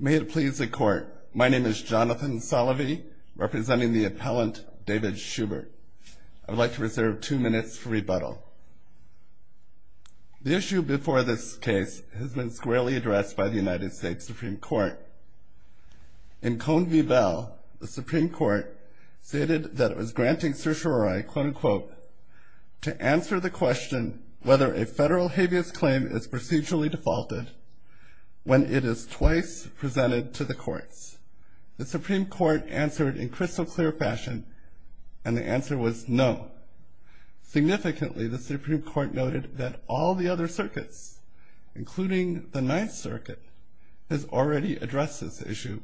May it please the Court, my name is Jonathan Salovey, representing the appellant David Schubert. I would like to reserve two minutes for rebuttal. The issue before this case has been squarely addressed by the United States Supreme Court. In Cone v. Bell, the Supreme Court stated that it was granting certiorari quote-unquote, to answer the question whether a federal habeas claim is vice presented to the courts. The Supreme Court answered in crystal clear fashion and the answer was no. Significantly, the Supreme Court noted that all the other circuits, including the Ninth Circuit, has already addressed this issue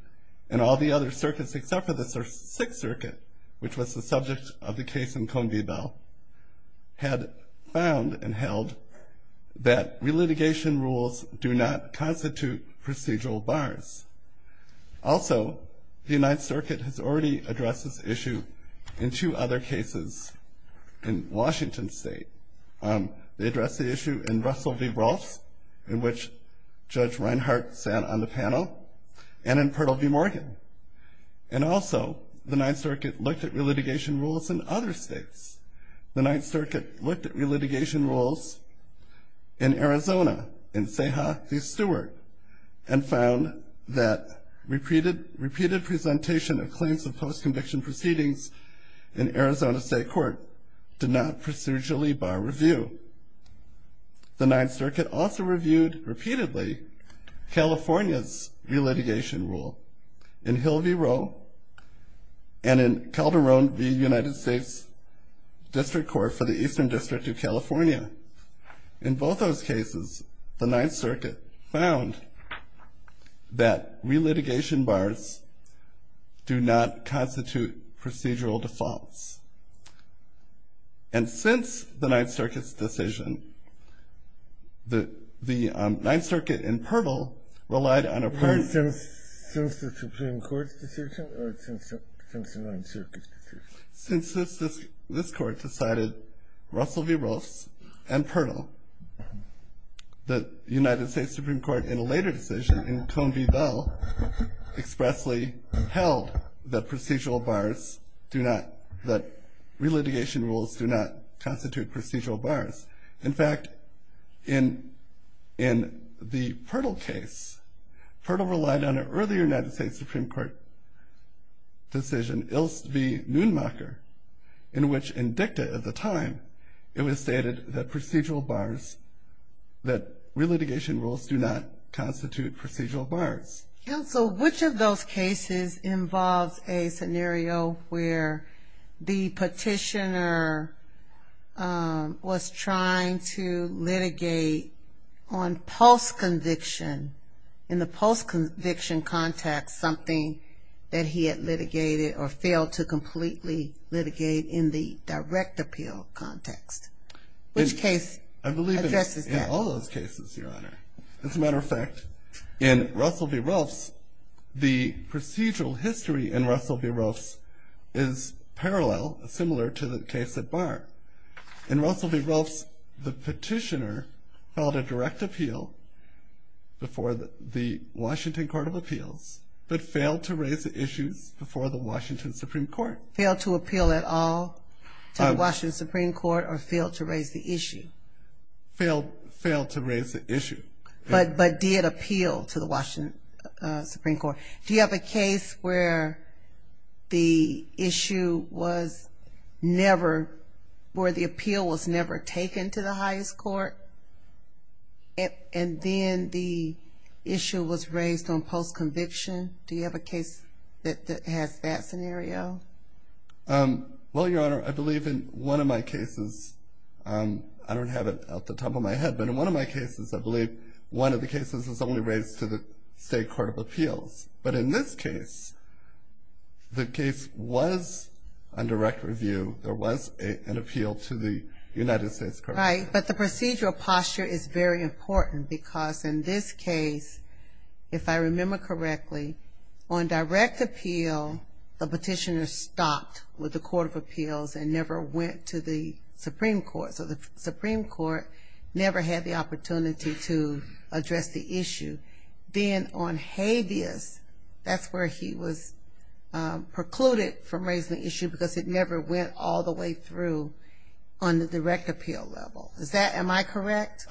and all the other circuits except for the Sixth Circuit, which was the subject of the case in Cone v. Bell, had found and held that re-litigation rules do not constitute procedural bars. Also, the Ninth Circuit has already addressed this issue in two other cases in Washington State. They addressed the issue in Russell v. Ross, in which Judge Reinhart sat on the panel, and in Purtle v. Morgan. And also, the Ninth Circuit looked at re-litigation rules in other states. The Ninth Circuit looked at re-litigation rules in Arizona in Seha v. Stewart, and found that repeated presentation of claims of post-conviction proceedings in Arizona State Court did not procedurally bar review. The Ninth Circuit also reviewed, repeatedly, California's re-litigation rule in Hill v. Rowe and in Calderon v. United States District Court for the Eastern District of California. In both those cases, the Ninth Circuit found that re-litigation bars do not constitute procedural defaults. And since the Ninth Circuit's decision, the Ninth Circuit and Purtle, the United States Supreme Court, in a later decision, in Cone v. Bell, expressly held that procedural bars do not, that re-litigation rules do not constitute procedural bars. In fact, in the Purtle case, Purtle relied on an earlier United States Supreme Court decision, in Ilst v. Neumacher, in which, in dicta at the time, it was stated that procedural bars, that re-litigation rules do not constitute procedural bars. Counsel, which of those cases involves a scenario where the petitioner was trying to litigate on post-conviction, in the post-conviction context, something that he had failed to completely litigate in the direct appeal context? Which case addresses that? I believe in all those cases, Your Honor. As a matter of fact, in Russell v. Rolfe's, the procedural history in Russell v. Rolfe's is parallel, similar to the case at Washington Supreme Court. Failed to appeal at all to the Washington Supreme Court, or failed to raise the issue? Failed to raise the issue. But did appeal to the Washington Supreme Court. Do you have a case where the issue was never, where the appeal was never taken to the highest court? And then the issue was raised on post-conviction? Do you have a case that has that scenario? Well, Your Honor, I believe in one of my cases, I don't have it at the top of my head, but in one of my cases, I believe one of the cases was only raised to the State Court of Appeals. But in this case, the case was on direct review. There was an appeal to the United States Court of Appeals. Right, but the procedural posture is very important, because in this case, if I remember correctly, on direct appeal, the petitioner stopped with the Court of Appeals and never went to the Supreme Court. So the Supreme Court never had the opportunity to address the issue. Then on habeas, that's where he was precluded from raising the issue, because it never went all the way through on the direct appeal level. Is that, am I correct?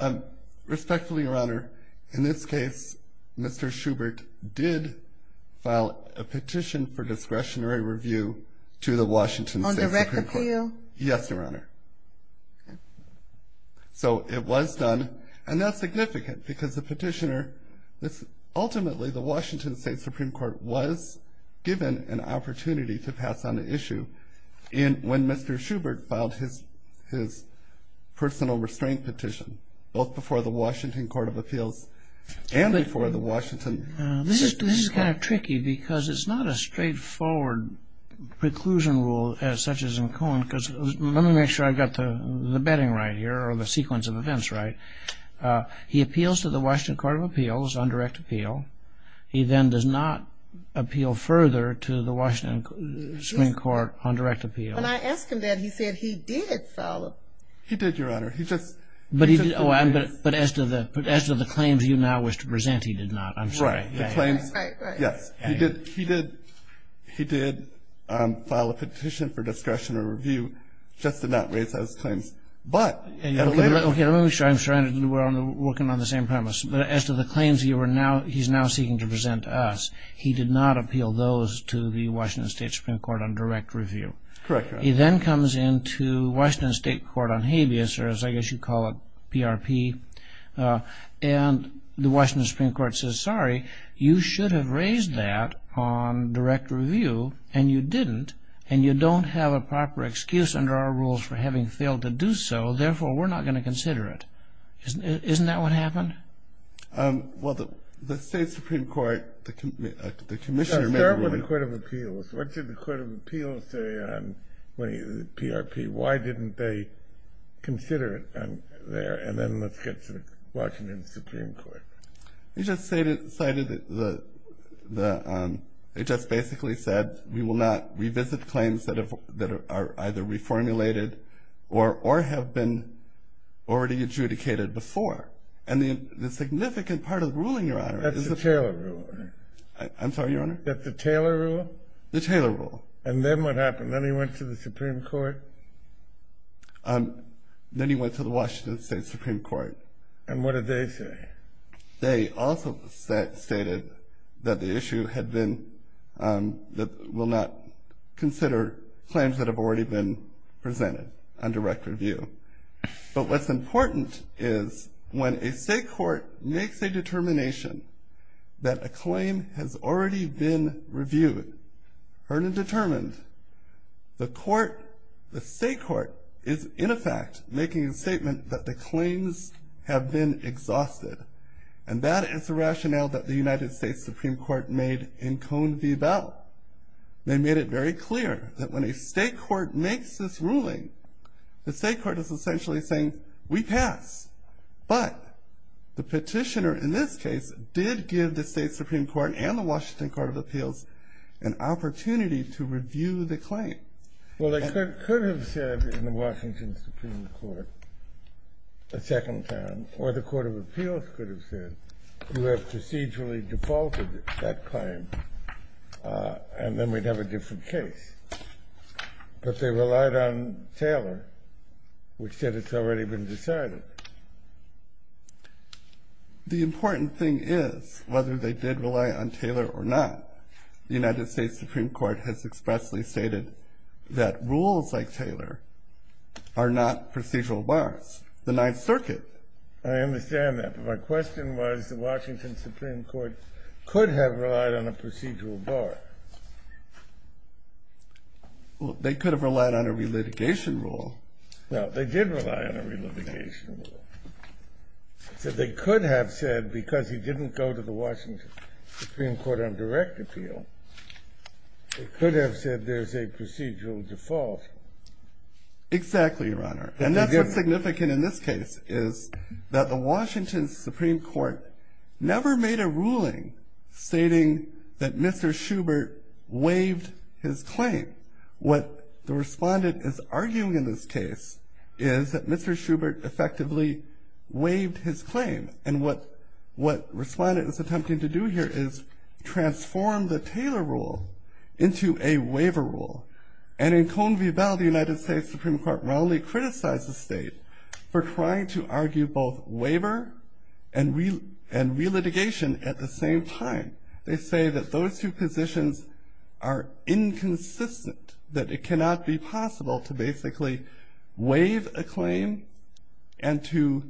Respectfully, Your Honor, in this case, Mr. Schubert did file a petition for discretionary review to the Washington State Supreme Court. On direct appeal? Yes, Your Honor. So it was done, and that's significant, because the petitioner, ultimately, the Washington State Supreme Court was given an opportunity to pass on the issue when Mr. Schubert filed his personal restraint petition, both before the Washington Court of Appeals and before the Washington Supreme Court. This is kind of tricky, because it's not a straightforward preclusion rule, such as in Cohen. Let me make sure I've got the bedding right here, or the sequence of events right. He appeals to the Washington Court of Appeals on direct appeal. He then does not appeal further to the Washington Supreme Court on direct appeal. When I asked him that, he said he did follow. He did, Your Honor. But as to the claims you now wish to present, he did not. I'm sorry. Right, right, right. Yes, he did file a petition for discretionary review, just did not raise those claims. But at a later... Okay, let me make sure I'm working on the same premise. But as to the claims he's now seeking to present to us, he did not appeal those to the Washington State Supreme Court on direct review. Correct, Your Honor. He then comes into the Washington State Court on habeas, or as I guess you'd call it, PRP. And the Washington Supreme Court says, sorry, you should have raised that on direct review, and you didn't. And you don't have a proper excuse under our rules for having failed to do so. Therefore, we're not going to consider it. Isn't that what happened? Well, the State Supreme Court, the commissioner... What did the Court of Appeals say on PRP? Why didn't they consider it there? And then let's get to the Washington Supreme Court. You just cited, they just basically said, we will not revisit claims that are either reformulated or have been already adjudicated before. And the significant part of the ruling, Your Honor... That's a Taylor rule, Your Honor. I'm sorry, Your Honor? That's a Taylor rule? The Taylor rule. And then what happened? Then he went to the Supreme Court? Then he went to the Washington State Supreme Court. And what did they say? They also stated that the issue had been, that we'll not consider claims that have already been presented on direct review. But what's important is when a state court makes a determination that a claim has already been reviewed, heard and determined, the court, the state court, is in effect making a statement that the claims have been exhausted. And that is the rationale that the United States Supreme Court made in Cone v. Bell. They made it very clear that when a state court makes this ruling, the state court is essentially saying, we pass. But the petitioner in this case did give the state Supreme Court and the Washington Court of Appeals an opportunity to review the claim. Well, they could have said in the Washington Supreme Court a second time, or the Court of Appeals could have said, you have procedurally defaulted that claim, and then we'd have a different case. But they relied on Taylor, which said it's already been decided. The important thing is, whether they did rely on Taylor or not, the United States Supreme Court has expressly stated that rules like Taylor are not procedural bars. The Ninth Circuit. I understand that, but my question was, the Washington Supreme Court could have relied on a procedural bar. Well, they could have relied on a relitigation rule. No, they did rely on a relitigation rule. They could have said, because he didn't go to the Washington Supreme Court on direct appeal, they could have said there's a procedural default. Exactly, Your Honor. And that's what's significant in this case, is that the Washington Supreme Court never made a ruling stating that Mr. Schubert waived his claim. What the respondent is arguing in this case is that Mr. Schubert effectively waived his claim. And what the respondent is attempting to do here is transform the Taylor rule into a waiver rule. And in Cohn v. Bell, the United States Supreme Court wrongly criticized the state for trying to argue both waiver and relitigation at the same time. They say that those two positions are inconsistent, that it cannot be possible to basically waive a claim and to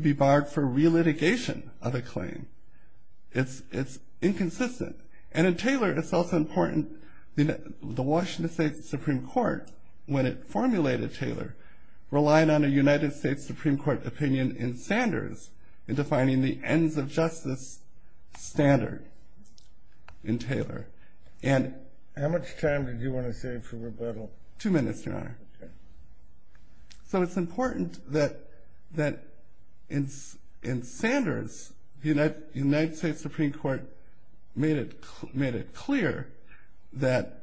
be barred for relitigation of a claim. It's inconsistent. And in Taylor, it's also important that the Washington State Supreme Court, when it formulated Taylor, relied on a United States Supreme Court opinion in Sanders in defining the ends of justice standard in Taylor. How much time did you want to save for rebuttal? Two minutes, Your Honor. So it's important that in Sanders, the United States Supreme Court made it clear that,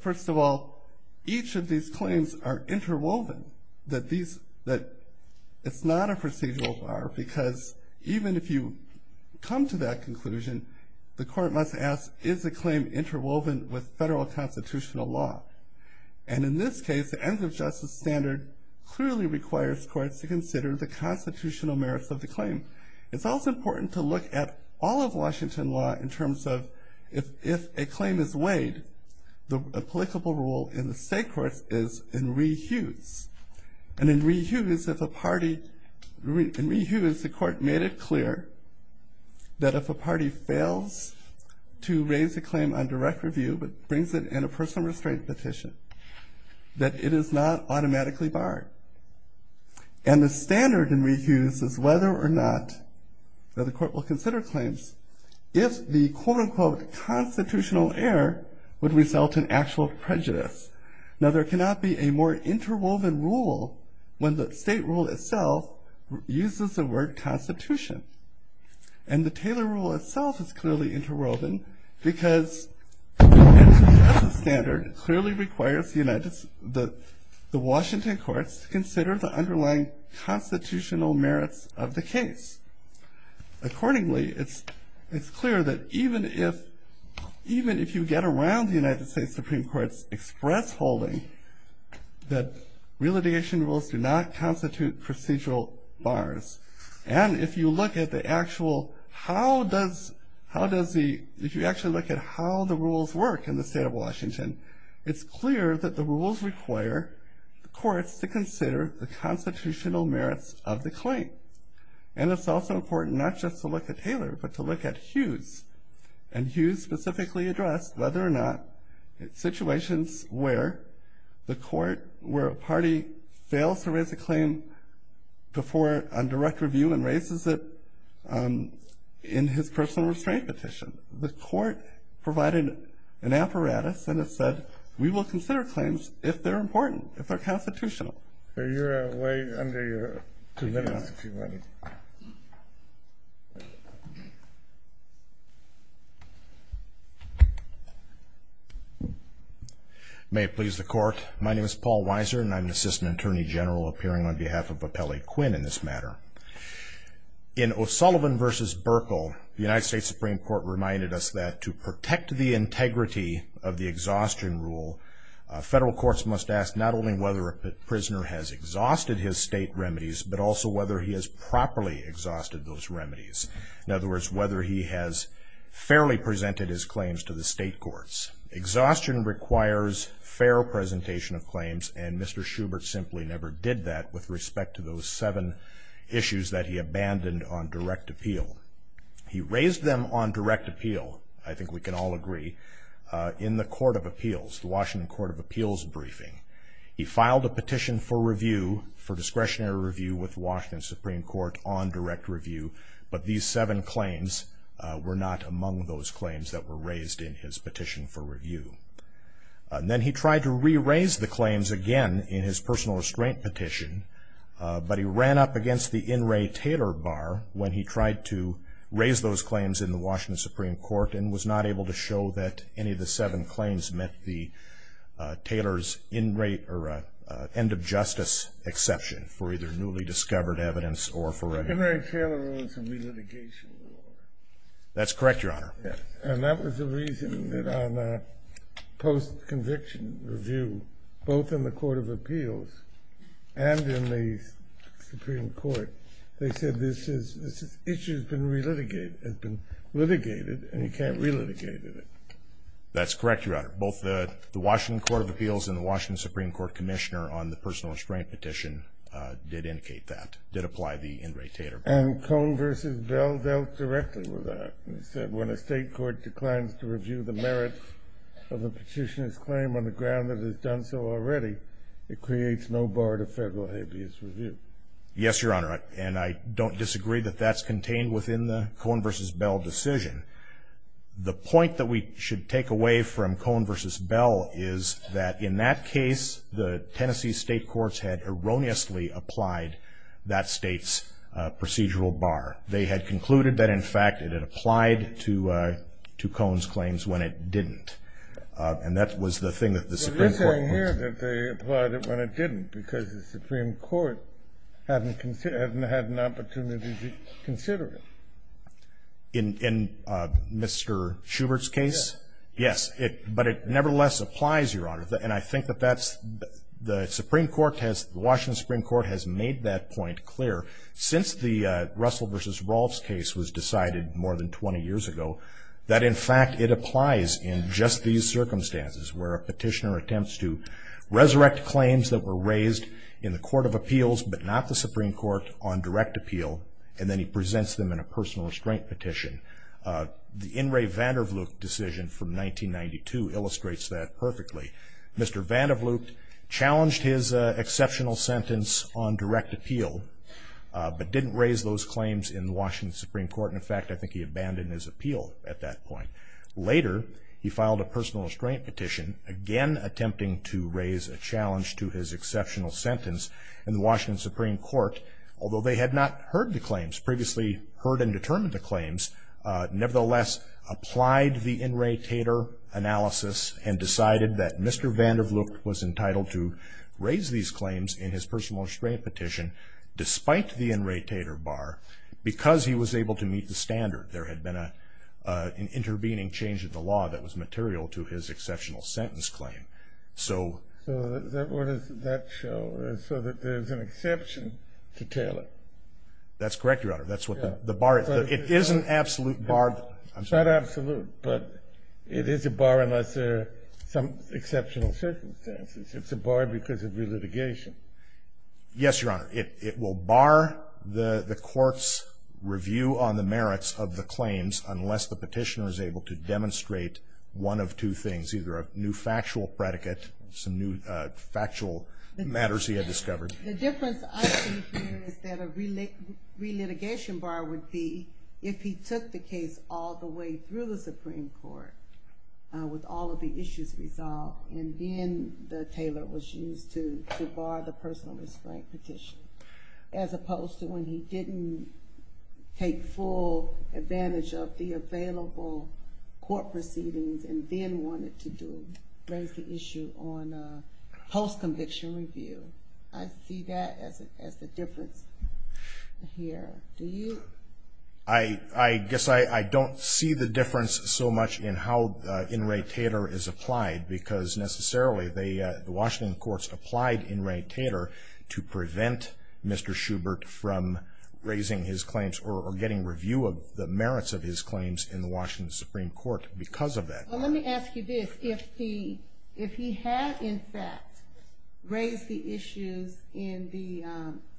first of all, each of these claims are interwoven, that it's not a procedural bar, because even if you come to that conclusion, the court must ask, is the claim interwoven with federal constitutional law? And in this case, the ends of justice standard clearly requires courts to consider the constitutional merits of the claim. It's also important to look at all of Washington law in terms of, if a claim is weighed, the applicable rule in the state courts is in re-hues. And in re-hues, the court made it clear that if a party fails to raise a claim on direct review but brings it in a personal restraint petition, that it is not automatically barred. And the standard in re-hues is whether or not the court will consider claims if the quote-unquote constitutional error would result in actual prejudice. Now, there cannot be a more interwoven rule when the state rule itself uses the word constitution. And the Taylor rule itself is clearly interwoven because the ends of justice standard clearly requires the Washington courts to consider the underlying constitutional merits of the case. Accordingly, it's clear that even if you get around the United States Supreme Court's express holding that re-litigation rules do not constitute procedural bars. And if you actually look at how the rules work in the state of Washington, it's clear that the rules require the courts to consider the constitutional merits of the claim. And it's also important not just to look at Taylor, but to look at hues. And hues specifically address whether or not situations where the court, where a party fails to raise a claim before a direct review and raises it in his personal restraint petition. The court provided an apparatus and it said we will consider claims if they're important, if they're constitutional. You're way under your two minutes, if you want to. May it please the court. My name is Paul Weiser and I'm the Assistant Attorney General appearing on behalf of Appellee Quinn in this matter. In O'Sullivan v. Burkle, the United States Supreme Court reminded us that to protect the integrity of the exhaustion rule, federal courts must ask not only whether a prisoner has exhausted his state remedies, but also whether he has properly exhausted those remedies. In other words, whether he has fairly presented his claims to the state courts. Exhaustion requires fair presentation of claims, and Mr. Schubert simply never did that with respect to those seven issues that he abandoned on direct appeal. He raised them on direct appeal, I think we can all agree, in the Court of Appeals, the Washington Court of Appeals briefing. He filed a petition for review, for discretionary review with Washington Supreme Court on direct review, but these seven claims were not among those claims that were raised in his petition for review. Then he tried to re-raise the claims again in his personal restraint petition, but he ran up against the In re Taylor bar when he tried to raise those claims in the Washington Supreme Court and was not able to show that any of the seven claims met the Taylor's end of justice exception for either newly discovered evidence or for a... In re Taylor was a re-litigation. That's correct, Your Honor. And that was the reason that on a post-conviction review, both in the Court of Appeals and in the Supreme Court, they said this issue has been re-litigated and you can't re-litigate it. That's correct, Your Honor. Both the Washington Court of Appeals and the Washington Supreme Court Commissioner on the personal restraint petition did indicate that, did apply the In re Taylor. And Cohn v. Bell dealt directly with that. They said when a state court declines to review the merits of a petitioner's claim on the ground that it's done so already, it creates no bar to federal habeas review. Yes, Your Honor, and I don't disagree that that's contained within the Cohn v. Bell decision. The point that we should take away from Cohn v. Bell is that in that case, the Tennessee state courts had erroneously applied that state's procedural bar. They had concluded that, in fact, it had applied to Cohn's claims when it didn't. And that was the thing that the Supreme Court... But it's saying here that they applied it when it didn't because the Supreme Court hadn't had an opportunity to consider it. In Mr. Schubert's case? Yes. Yes, but it nevertheless applies, Your Honor. And I think that the Supreme Court has, the Washington Supreme Court has made that point clear. Since the Russell v. Rolfe's case was decided more than 20 years ago, that, in fact, it applies in just these circumstances where a petitioner attempts to resurrect claims that were raised in the court of appeals but not the Supreme Court on direct appeal, and then he presents them in a personal restraint petition. The In re. Vandervloot decision from 1992 illustrates that perfectly. Mr. Vandervloot challenged his exceptional sentence on direct appeal but didn't raise those claims in the Washington Supreme Court. In fact, I think he abandoned his appeal at that point. Later, he filed a personal restraint petition, again attempting to raise a challenge to his exceptional sentence in the Washington Supreme Court, although they had not heard the claims, previously heard and determined the claims, nevertheless applied the In re. Tater analysis and decided that Mr. Vandervloot was entitled to raise these claims in his personal restraint petition despite the In re. Tater bar because he was able to meet the standard. There had been an intervening change of the law that was material to his exceptional sentence claim. So what does that show? So that there's an exception to Taylor? That's correct, Your Honor. That's what the bar is. It is an absolute bar. It's not absolute, but it is a bar unless there are some exceptional circumstances. It's a bar because of relitigation. Yes, Your Honor. It will bar the court's review on the merits of the claims unless the petitioner is able to demonstrate one of two things, either a new factual predicate, some new factual matters he had discovered. The difference I see here is that a relitigation bar would be if he took the case all the way through the Supreme Court with all of the issues resolved and then the Taylor was used to bar the personal restraint petition as opposed to when he didn't take full advantage of the available court proceedings and then wanted to raise the issue on post-conviction review. I see that as the difference here. Do you? I guess I don't see the difference so much in how in re Taylor is applied because necessarily the Washington courts applied in re Taylor to prevent Mr. Schubert from raising his claims or getting review of the merits of his claims in the Washington Supreme Court because of that. Well, let me ask you this. If he had, in fact, raised the issues in the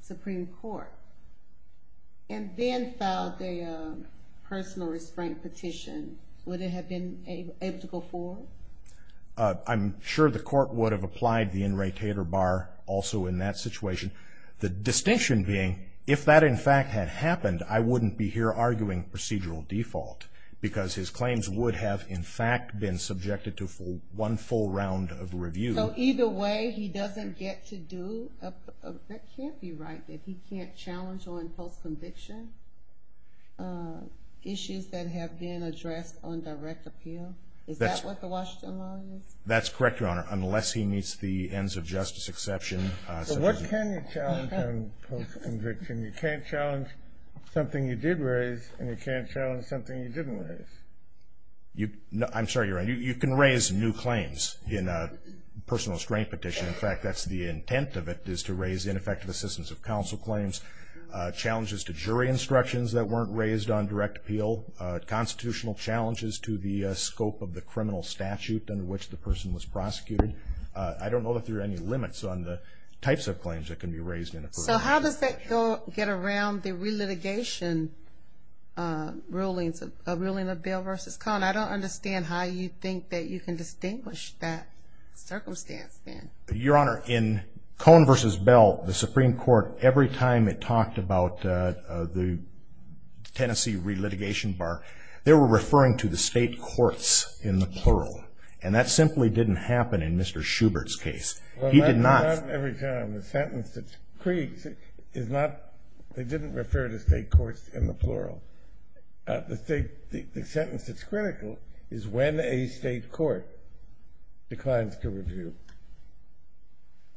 Supreme Court and then filed the personal restraint petition, would it have been able to go forward? I'm sure the court would have applied the in re Taylor bar also in that situation. The distinction being if that, in fact, had happened, I wouldn't be here arguing procedural default because his claims would have, in fact, been subjected to one full round of review. So either way he doesn't get to do, that can't be right, that he can't challenge on post-conviction issues that have been addressed on direct appeal? Is that what the Washington law is? That's correct, Your Honor, unless he meets the ends of justice exception. So what can you challenge on post-conviction? You can't challenge something you did raise, and you can't challenge something you didn't raise. I'm sorry, Your Honor, you can raise new claims in a personal restraint petition. In fact, that's the intent of it is to raise ineffective assistance of counsel claims, challenges to jury instructions that weren't raised on direct appeal, constitutional challenges to the scope of the criminal statute under which the person was prosecuted. I don't know if there are any limits on the types of claims that can be raised in a plural. So how does that get around the re-litigation rulings of Bill v. Cohn? I don't understand how you think that you can distinguish that circumstance then. Your Honor, in Cohn v. Bell, the Supreme Court, every time it talked about the Tennessee re-litigation bar, they were referring to the state courts in the plural, and that simply didn't happen in Mr. Schubert's case. He did not. Well, that's not every time. The sentence that's created is not they didn't refer to state courts in the plural. The sentence that's critical is when a state court declines to review.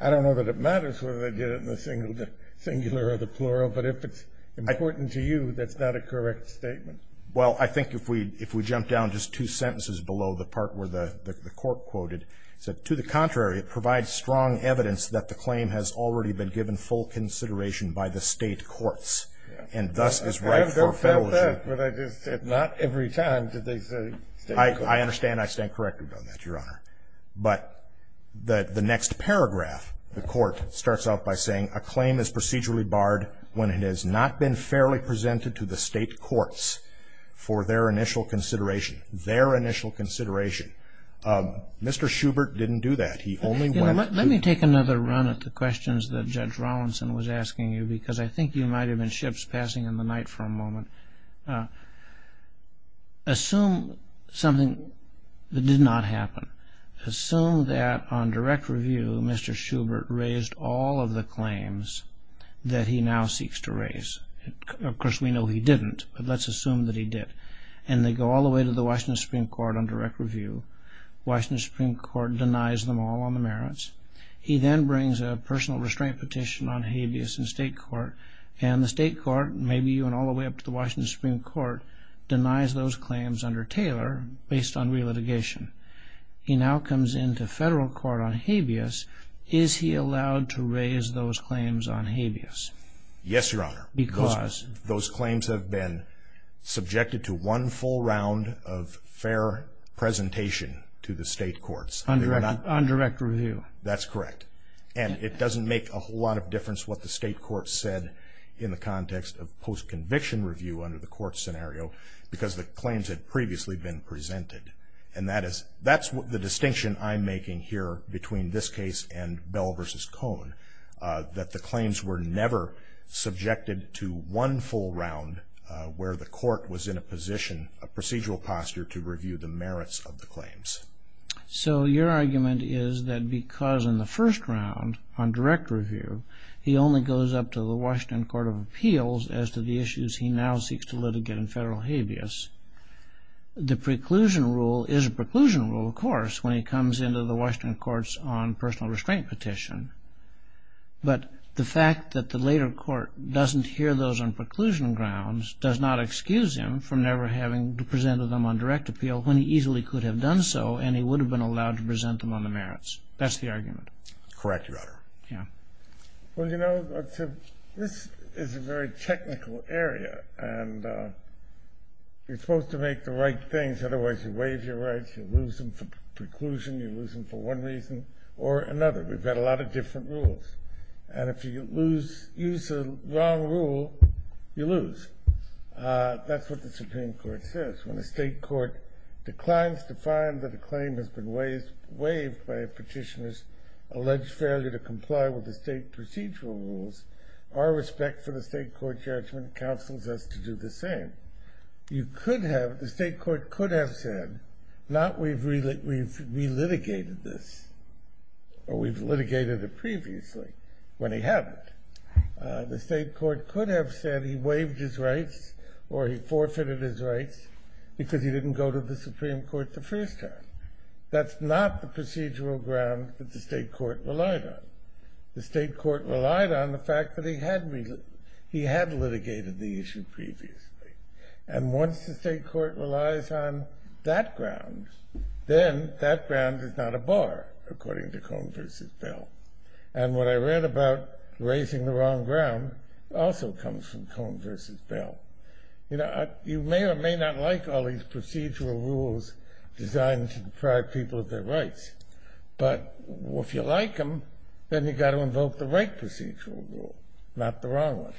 I don't know that it matters whether they did it in the singular or the plural, but if it's important to you, that's not a correct statement. Well, I think if we jump down just two sentences below the part where the court quoted, it said, to the contrary, it provides strong evidence that the claim has already been given full consideration by the state courts, and thus is right for federalism. I kind of felt that, but I just said not every time did they say state courts. I understand. I stand corrected on that, Your Honor. But the next paragraph, the court starts out by saying, a claim is procedurally barred when it has not been fairly presented to the state courts for their initial consideration. Their initial consideration. Mr. Schubert didn't do that. Let me take another run at the questions that Judge Rawlinson was asking you, because I think you might have been ships passing in the night for a moment. Assume something that did not happen. Assume that on direct review, Mr. Schubert raised all of the claims that he now seeks to raise. Of course, we know he didn't, but let's assume that he did. And they go all the way to the Washington Supreme Court on direct review. Washington Supreme Court denies them all on the merits. He then brings a personal restraint petition on habeas in state court, and the state court, maybe even all the way up to the Washington Supreme Court, denies those claims under Taylor based on relitigation. He now comes into federal court on habeas. Is he allowed to raise those claims on habeas? Yes, Your Honor. Because? Those claims have been subjected to one full round of fair presentation to the state courts. On direct review. That's correct. And it doesn't make a whole lot of difference what the state courts said in the context of post-conviction review under the court scenario because the claims had previously been presented. And that's the distinction I'm making here between this case and Bell v. Cohn, that the claims were never subjected to one full round where the court was in a position, a procedural posture to review the merits of the claims. So your argument is that because in the first round, on direct review, he only goes up to the Washington Court of Appeals as to the issues he now seeks to litigate in federal habeas, the preclusion rule is a preclusion rule, of course, when he comes into the Washington courts on personal restraint petition. But the fact that the later court doesn't hear those on preclusion grounds does not excuse him from never having presented them on direct appeal when he easily could have done so and he would have been allowed to present them on the merits. That's the argument. Correct, Your Honor. Well, you know, this is a very technical area. And you're supposed to make the right things, otherwise you waive your rights, you lose them for preclusion, you lose them for one reason or another. We've got a lot of different rules. And if you use the wrong rule, you lose. That's what the Supreme Court says. When a state court declines to find that a claim has been waived by a petitioner's to comply with the state procedural rules, our respect for the state court judgment counsels us to do the same. You could have, the state court could have said, not we've relitigated this or we've litigated it previously, when he hadn't. The state court could have said he waived his rights or he forfeited his rights because he didn't go to the Supreme Court the first time. That's not the procedural ground that the state court relied on. The state court relied on the fact that he had litigated the issue previously. And once the state court relies on that ground, then that ground is not a bar, according to Cone v. Bell. And what I read about raising the wrong ground also comes from Cone v. Bell. You may or may not like all these procedural rules designed to deprive people of their rights. But if you like them, then you've got to invoke the right procedural rule, not the wrong one.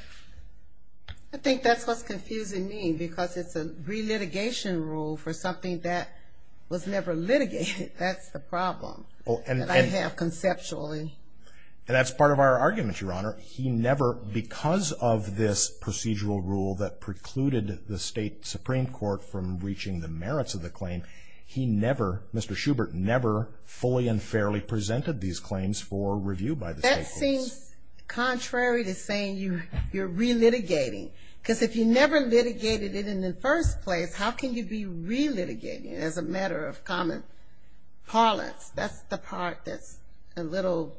I think that's what's confusing me because it's a relitigation rule for something that was never litigated. That's the problem that I have conceptually. And that's part of our argument, Your Honor. He never, because of this procedural rule that precluded the state Supreme Court from reaching the merits of the claim, he never, Mr. Schubert never, fully and fairly presented these claims for review by the state courts. That seems contrary to saying you're relitigating. Because if you never litigated it in the first place, how can you be relitigating it as a matter of common parlance? That's the part that's a little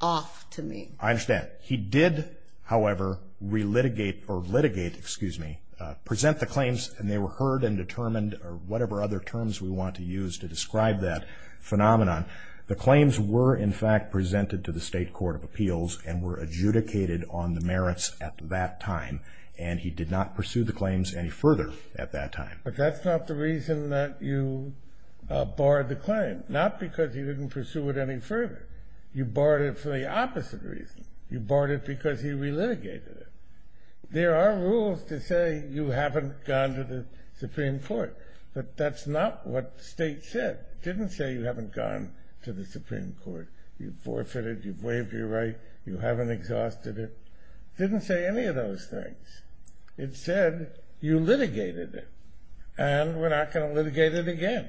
off to me. I understand. He did, however, relitigate or litigate, excuse me, present the claims and they were heard and determined or whatever other terms we want to use to describe that phenomenon. The claims were, in fact, presented to the state court of appeals and were adjudicated on the merits at that time. And he did not pursue the claims any further at that time. But that's not the reason that you barred the claim. Not because he didn't pursue it any further. You barred it for the opposite reason. You barred it because he relitigated it. There are rules to say you haven't gone to the Supreme Court. But that's not what the state said. It didn't say you haven't gone to the Supreme Court. You've forfeited. You've waived your right. You haven't exhausted it. It didn't say any of those things. It said you litigated it. And we're not going to litigate it again.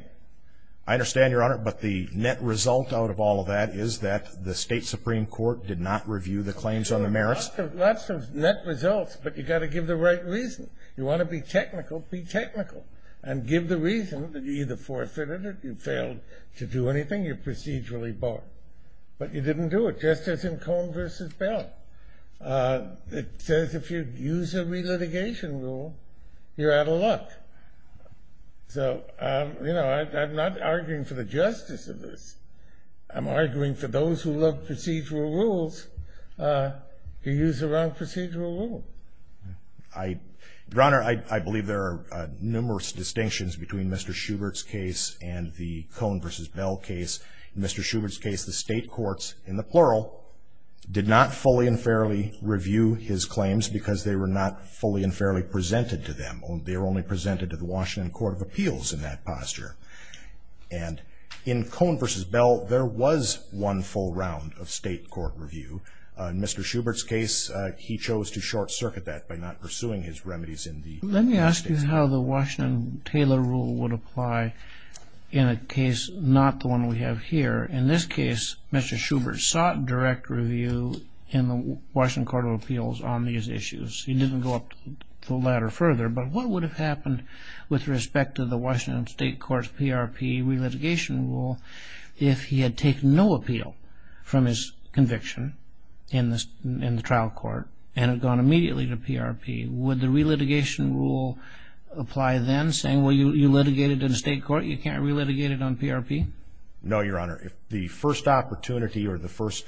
I understand, Your Honor, but the net result out of all of that is that the state Supreme Court did not review the claims on the merits. Lots of net results, but you've got to give the right reason. You want to be technical, be technical. And give the reason that you either forfeited it, you failed to do anything, you're procedurally barred. But you didn't do it, just as in Cone v. Bell. It says if you use a relitigation rule, you're out of luck. So, you know, I'm not arguing for the justice of this. I'm arguing for those who love procedural rules who use the wrong procedural rule. Your Honor, I believe there are numerous distinctions between Mr. Schubert's case and the Cone v. Bell case. In Mr. Schubert's case, the state courts, in the plural, did not fully and fairly review his claims because they were not fully and fairly presented to them. They were only presented to the Washington Court of Appeals in that posture. And in Cone v. Bell, there was one full round of state court review. In Mr. Schubert's case, he chose to short-circuit that by not pursuing his remedies in the state. Let me ask you how the Washington-Taylor rule would apply in a case not the one we have here. In this case, Mr. Schubert sought direct review in the Washington Court of Appeals on these issues. He didn't go up the ladder further, but what would have happened with respect to the Washington State Court's PRP re-litigation rule if he had taken no appeal from his conviction in the trial court and had gone immediately to PRP? Would the re-litigation rule apply then, saying, well, you litigated in state court, you can't re-litigate it on PRP? No, Your Honor. The first opportunity or the first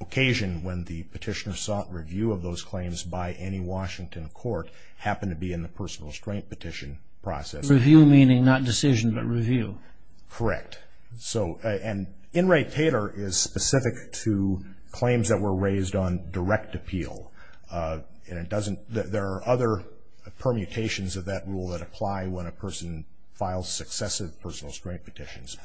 occasion when the petitioner sought review of those claims by any Washington court happened to be in the personal restraint petition process. Review meaning not decision, but review. Correct. And In re-Taylor is specific to claims that were raised on direct appeal. There are other permutations of that rule that apply when a person files successive personal restraint petitions.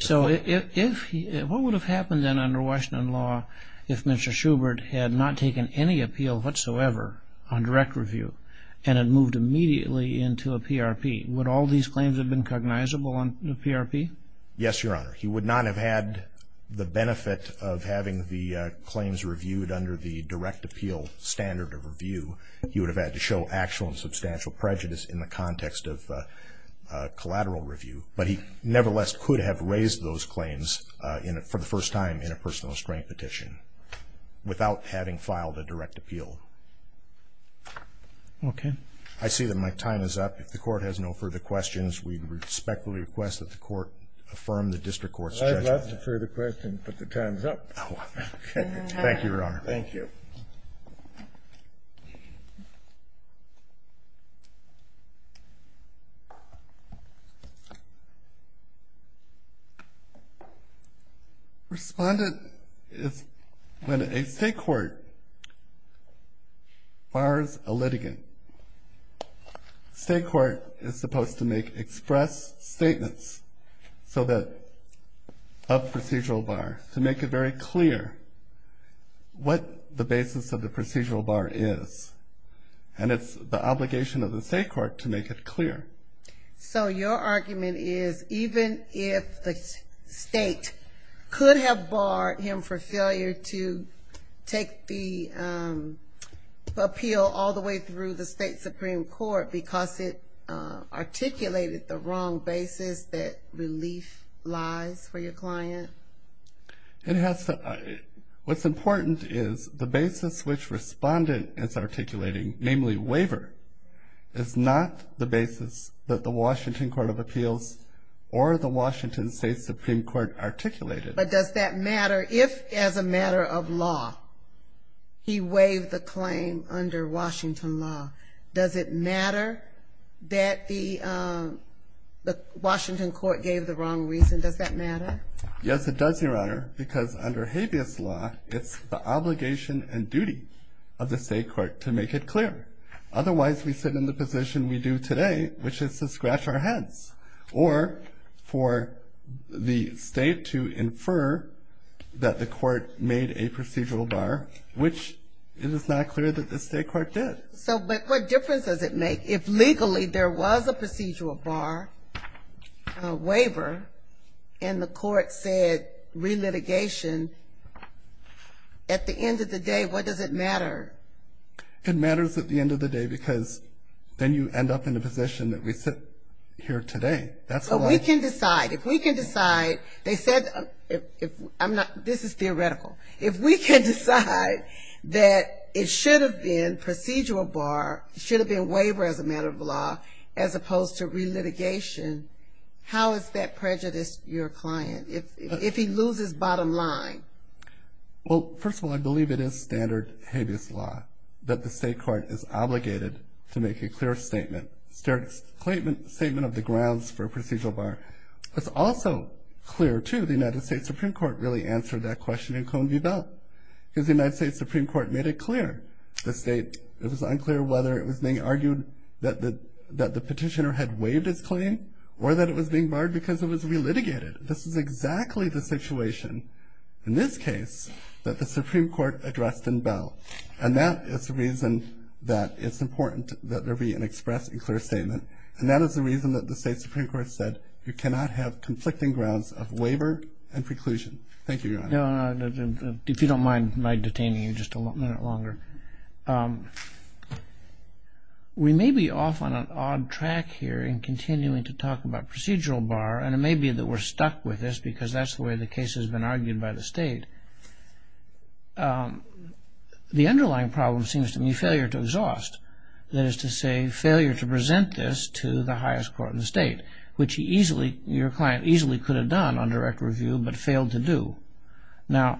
So what would have happened then under Washington law if Mr. Schubert had not taken any appeal whatsoever on direct review and had moved immediately into a PRP? Would all these claims have been cognizable on PRP? Yes, Your Honor. He would not have had the benefit of having the claims reviewed under the direct appeal standard of review. He would have had to show actual and substantial prejudice in the context of collateral review. But he nevertheless could have raised those claims for the first time in a personal restraint petition without having filed a direct appeal. Okay. I see that my time is up. If the Court has no further questions, we respectfully request that the Court affirm the District Court's judgment. I have lots of further questions, but the time is up. Thank you, Your Honor. Thank you. Respondent, when a state court bars a litigant, the state court is supposed to make express statements of procedural bar to make it very clear what the basis of the procedural bar is. And it's the obligation of the state court to make it clear. So your argument is even if the state could have barred him for failure to take the appeal all the way through the state Supreme Court because it articulated the wrong basis that relief lies for your client? What's important is the basis which Respondent is articulating, namely waiver, is not the basis that the Washington Court of Appeals or the Washington State Supreme Court articulated. But does that matter if as a matter of law he waived the claim under Washington law? Does it matter that the Washington Court gave the wrong reason? Does that matter? Yes, it does, Your Honor, because under habeas law, it's the obligation and duty of the state court to make it clear. Otherwise, we sit in the position we do today, which is to scratch our heads or for the state to infer that the court made a procedural bar, which it is not clear that the state court did. But what difference does it make if legally there was a procedural bar waiver and the court said re-litigation, at the end of the day, what does it matter? It matters at the end of the day because then you end up in a position that we sit here today. We can decide. If we can decide, they said, this is theoretical, if we can decide that it should have been procedural bar, it should have been waiver as a matter of law as opposed to re-litigation, how is that prejudiced your client if he loses bottom line? Well, first of all, I believe it is standard habeas law, that the state court is obligated to make a clear statement, statement of the grounds for a procedural bar. It's also clear, too, the United States Supreme Court really answered that question in Cone v. Belt because the United States Supreme Court made it clear. The state, it was unclear whether it was being argued that the petitioner had waived his claim or that it was being barred because it was re-litigated. This is exactly the situation in this case that the Supreme Court addressed in Belt and that is the reason that it's important that there be an express and clear statement and that is the reason that the state Supreme Court said you cannot have conflicting grounds of waiver and preclusion. Thank you, Your Honor. If you don't mind my detaining you just a minute longer. We may be off on an odd track here in continuing to talk about procedural bar and it may be that we're stuck with this because that's the way the case has been argued by the state. The underlying problem seems to be failure to exhaust, that is to say failure to present this to the highest court in the state, which he easily, your client easily could have done on direct review but failed to do. Now,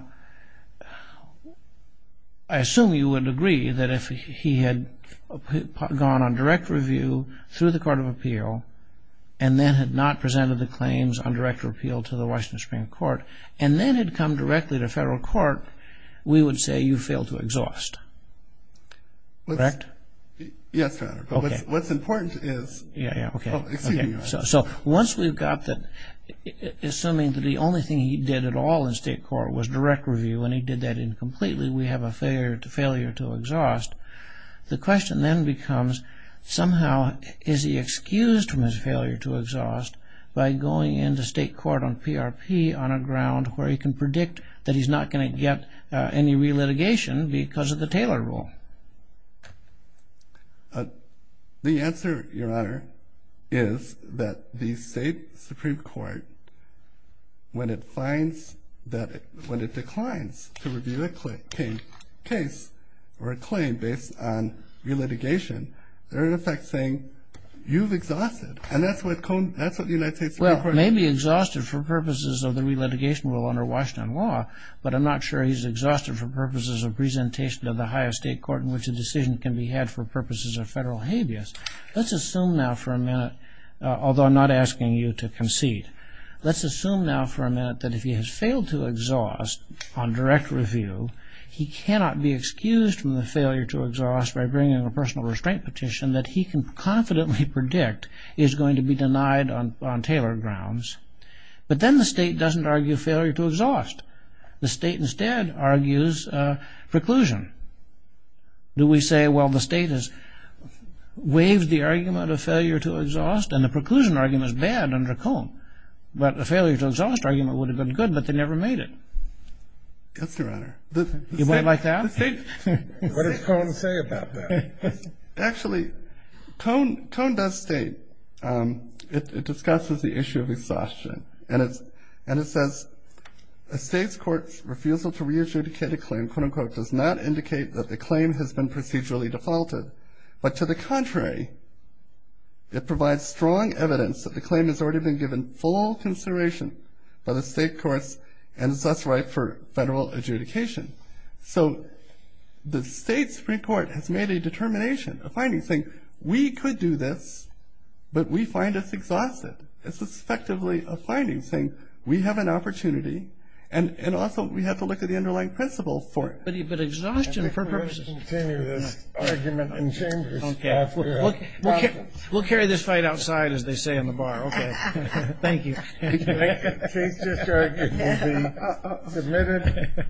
I assume you would agree that if he had gone on direct review through the Court of Appeal and then had not presented the claims on direct appeal to the Washington Supreme Court and then had come directly to federal court, we would say you failed to exhaust. Correct? Yes, Your Honor. Okay. But what's important is... Yeah, yeah, okay. Oh, excuse me, Your Honor. So once we've got that, assuming that the only thing he did at all in state court was direct review and he did that incompletely, we have a failure to exhaust, the question then becomes somehow is he excused from his failure to exhaust by going into state court on PRP on a ground where he can predict that he's not going to get any re-litigation because of the Taylor Rule? The answer, Your Honor, is that the state Supreme Court, when it finds that, when it declines to review a case or a claim based on re-litigation, they're in effect saying you've exhausted. And that's what the United States Supreme Court... Well, it may be exhausted for purposes of the re-litigation rule under Washington law, but I'm not sure he's exhausted for purposes of presentation of the highest state court in which a decision can be had for purposes of federal habeas. Let's assume now for a minute, although I'm not asking you to concede, let's assume now for a minute that if he has failed to exhaust on direct review, he cannot be excused from the failure to exhaust by bringing a personal restraint petition that he can confidently predict is going to be denied on Taylor grounds. But then the state doesn't argue failure to exhaust. The state instead argues preclusion. Do we say, well, the state has waived the argument of failure to exhaust and the preclusion argument is bad under Cone, but the failure to exhaust argument would have been good, but they never made it. Yes, Your Honor. You might like that? What does Cone say about that? Actually, Cone does state, it discusses the issue of exhaustion, and it says a state's court's refusal to re-adjudicate a claim, quote-unquote, does not indicate that the claim has been procedurally defaulted, but to the contrary, it provides strong evidence that the claim has already been given full consideration by the state courts and is thus ripe for federal adjudication. So the state Supreme Court has made a determination, a finding, saying we could do this, but we find this exhaustive. It's effectively a finding saying we have an opportunity and also we have to look at the underlying principle for it. But exhaustion for purposes. We'll continue this argument in chambers. Okay. We'll carry this fight outside, as they say in the bar. Okay. Thank you. The case is adjourned. It will be submitted.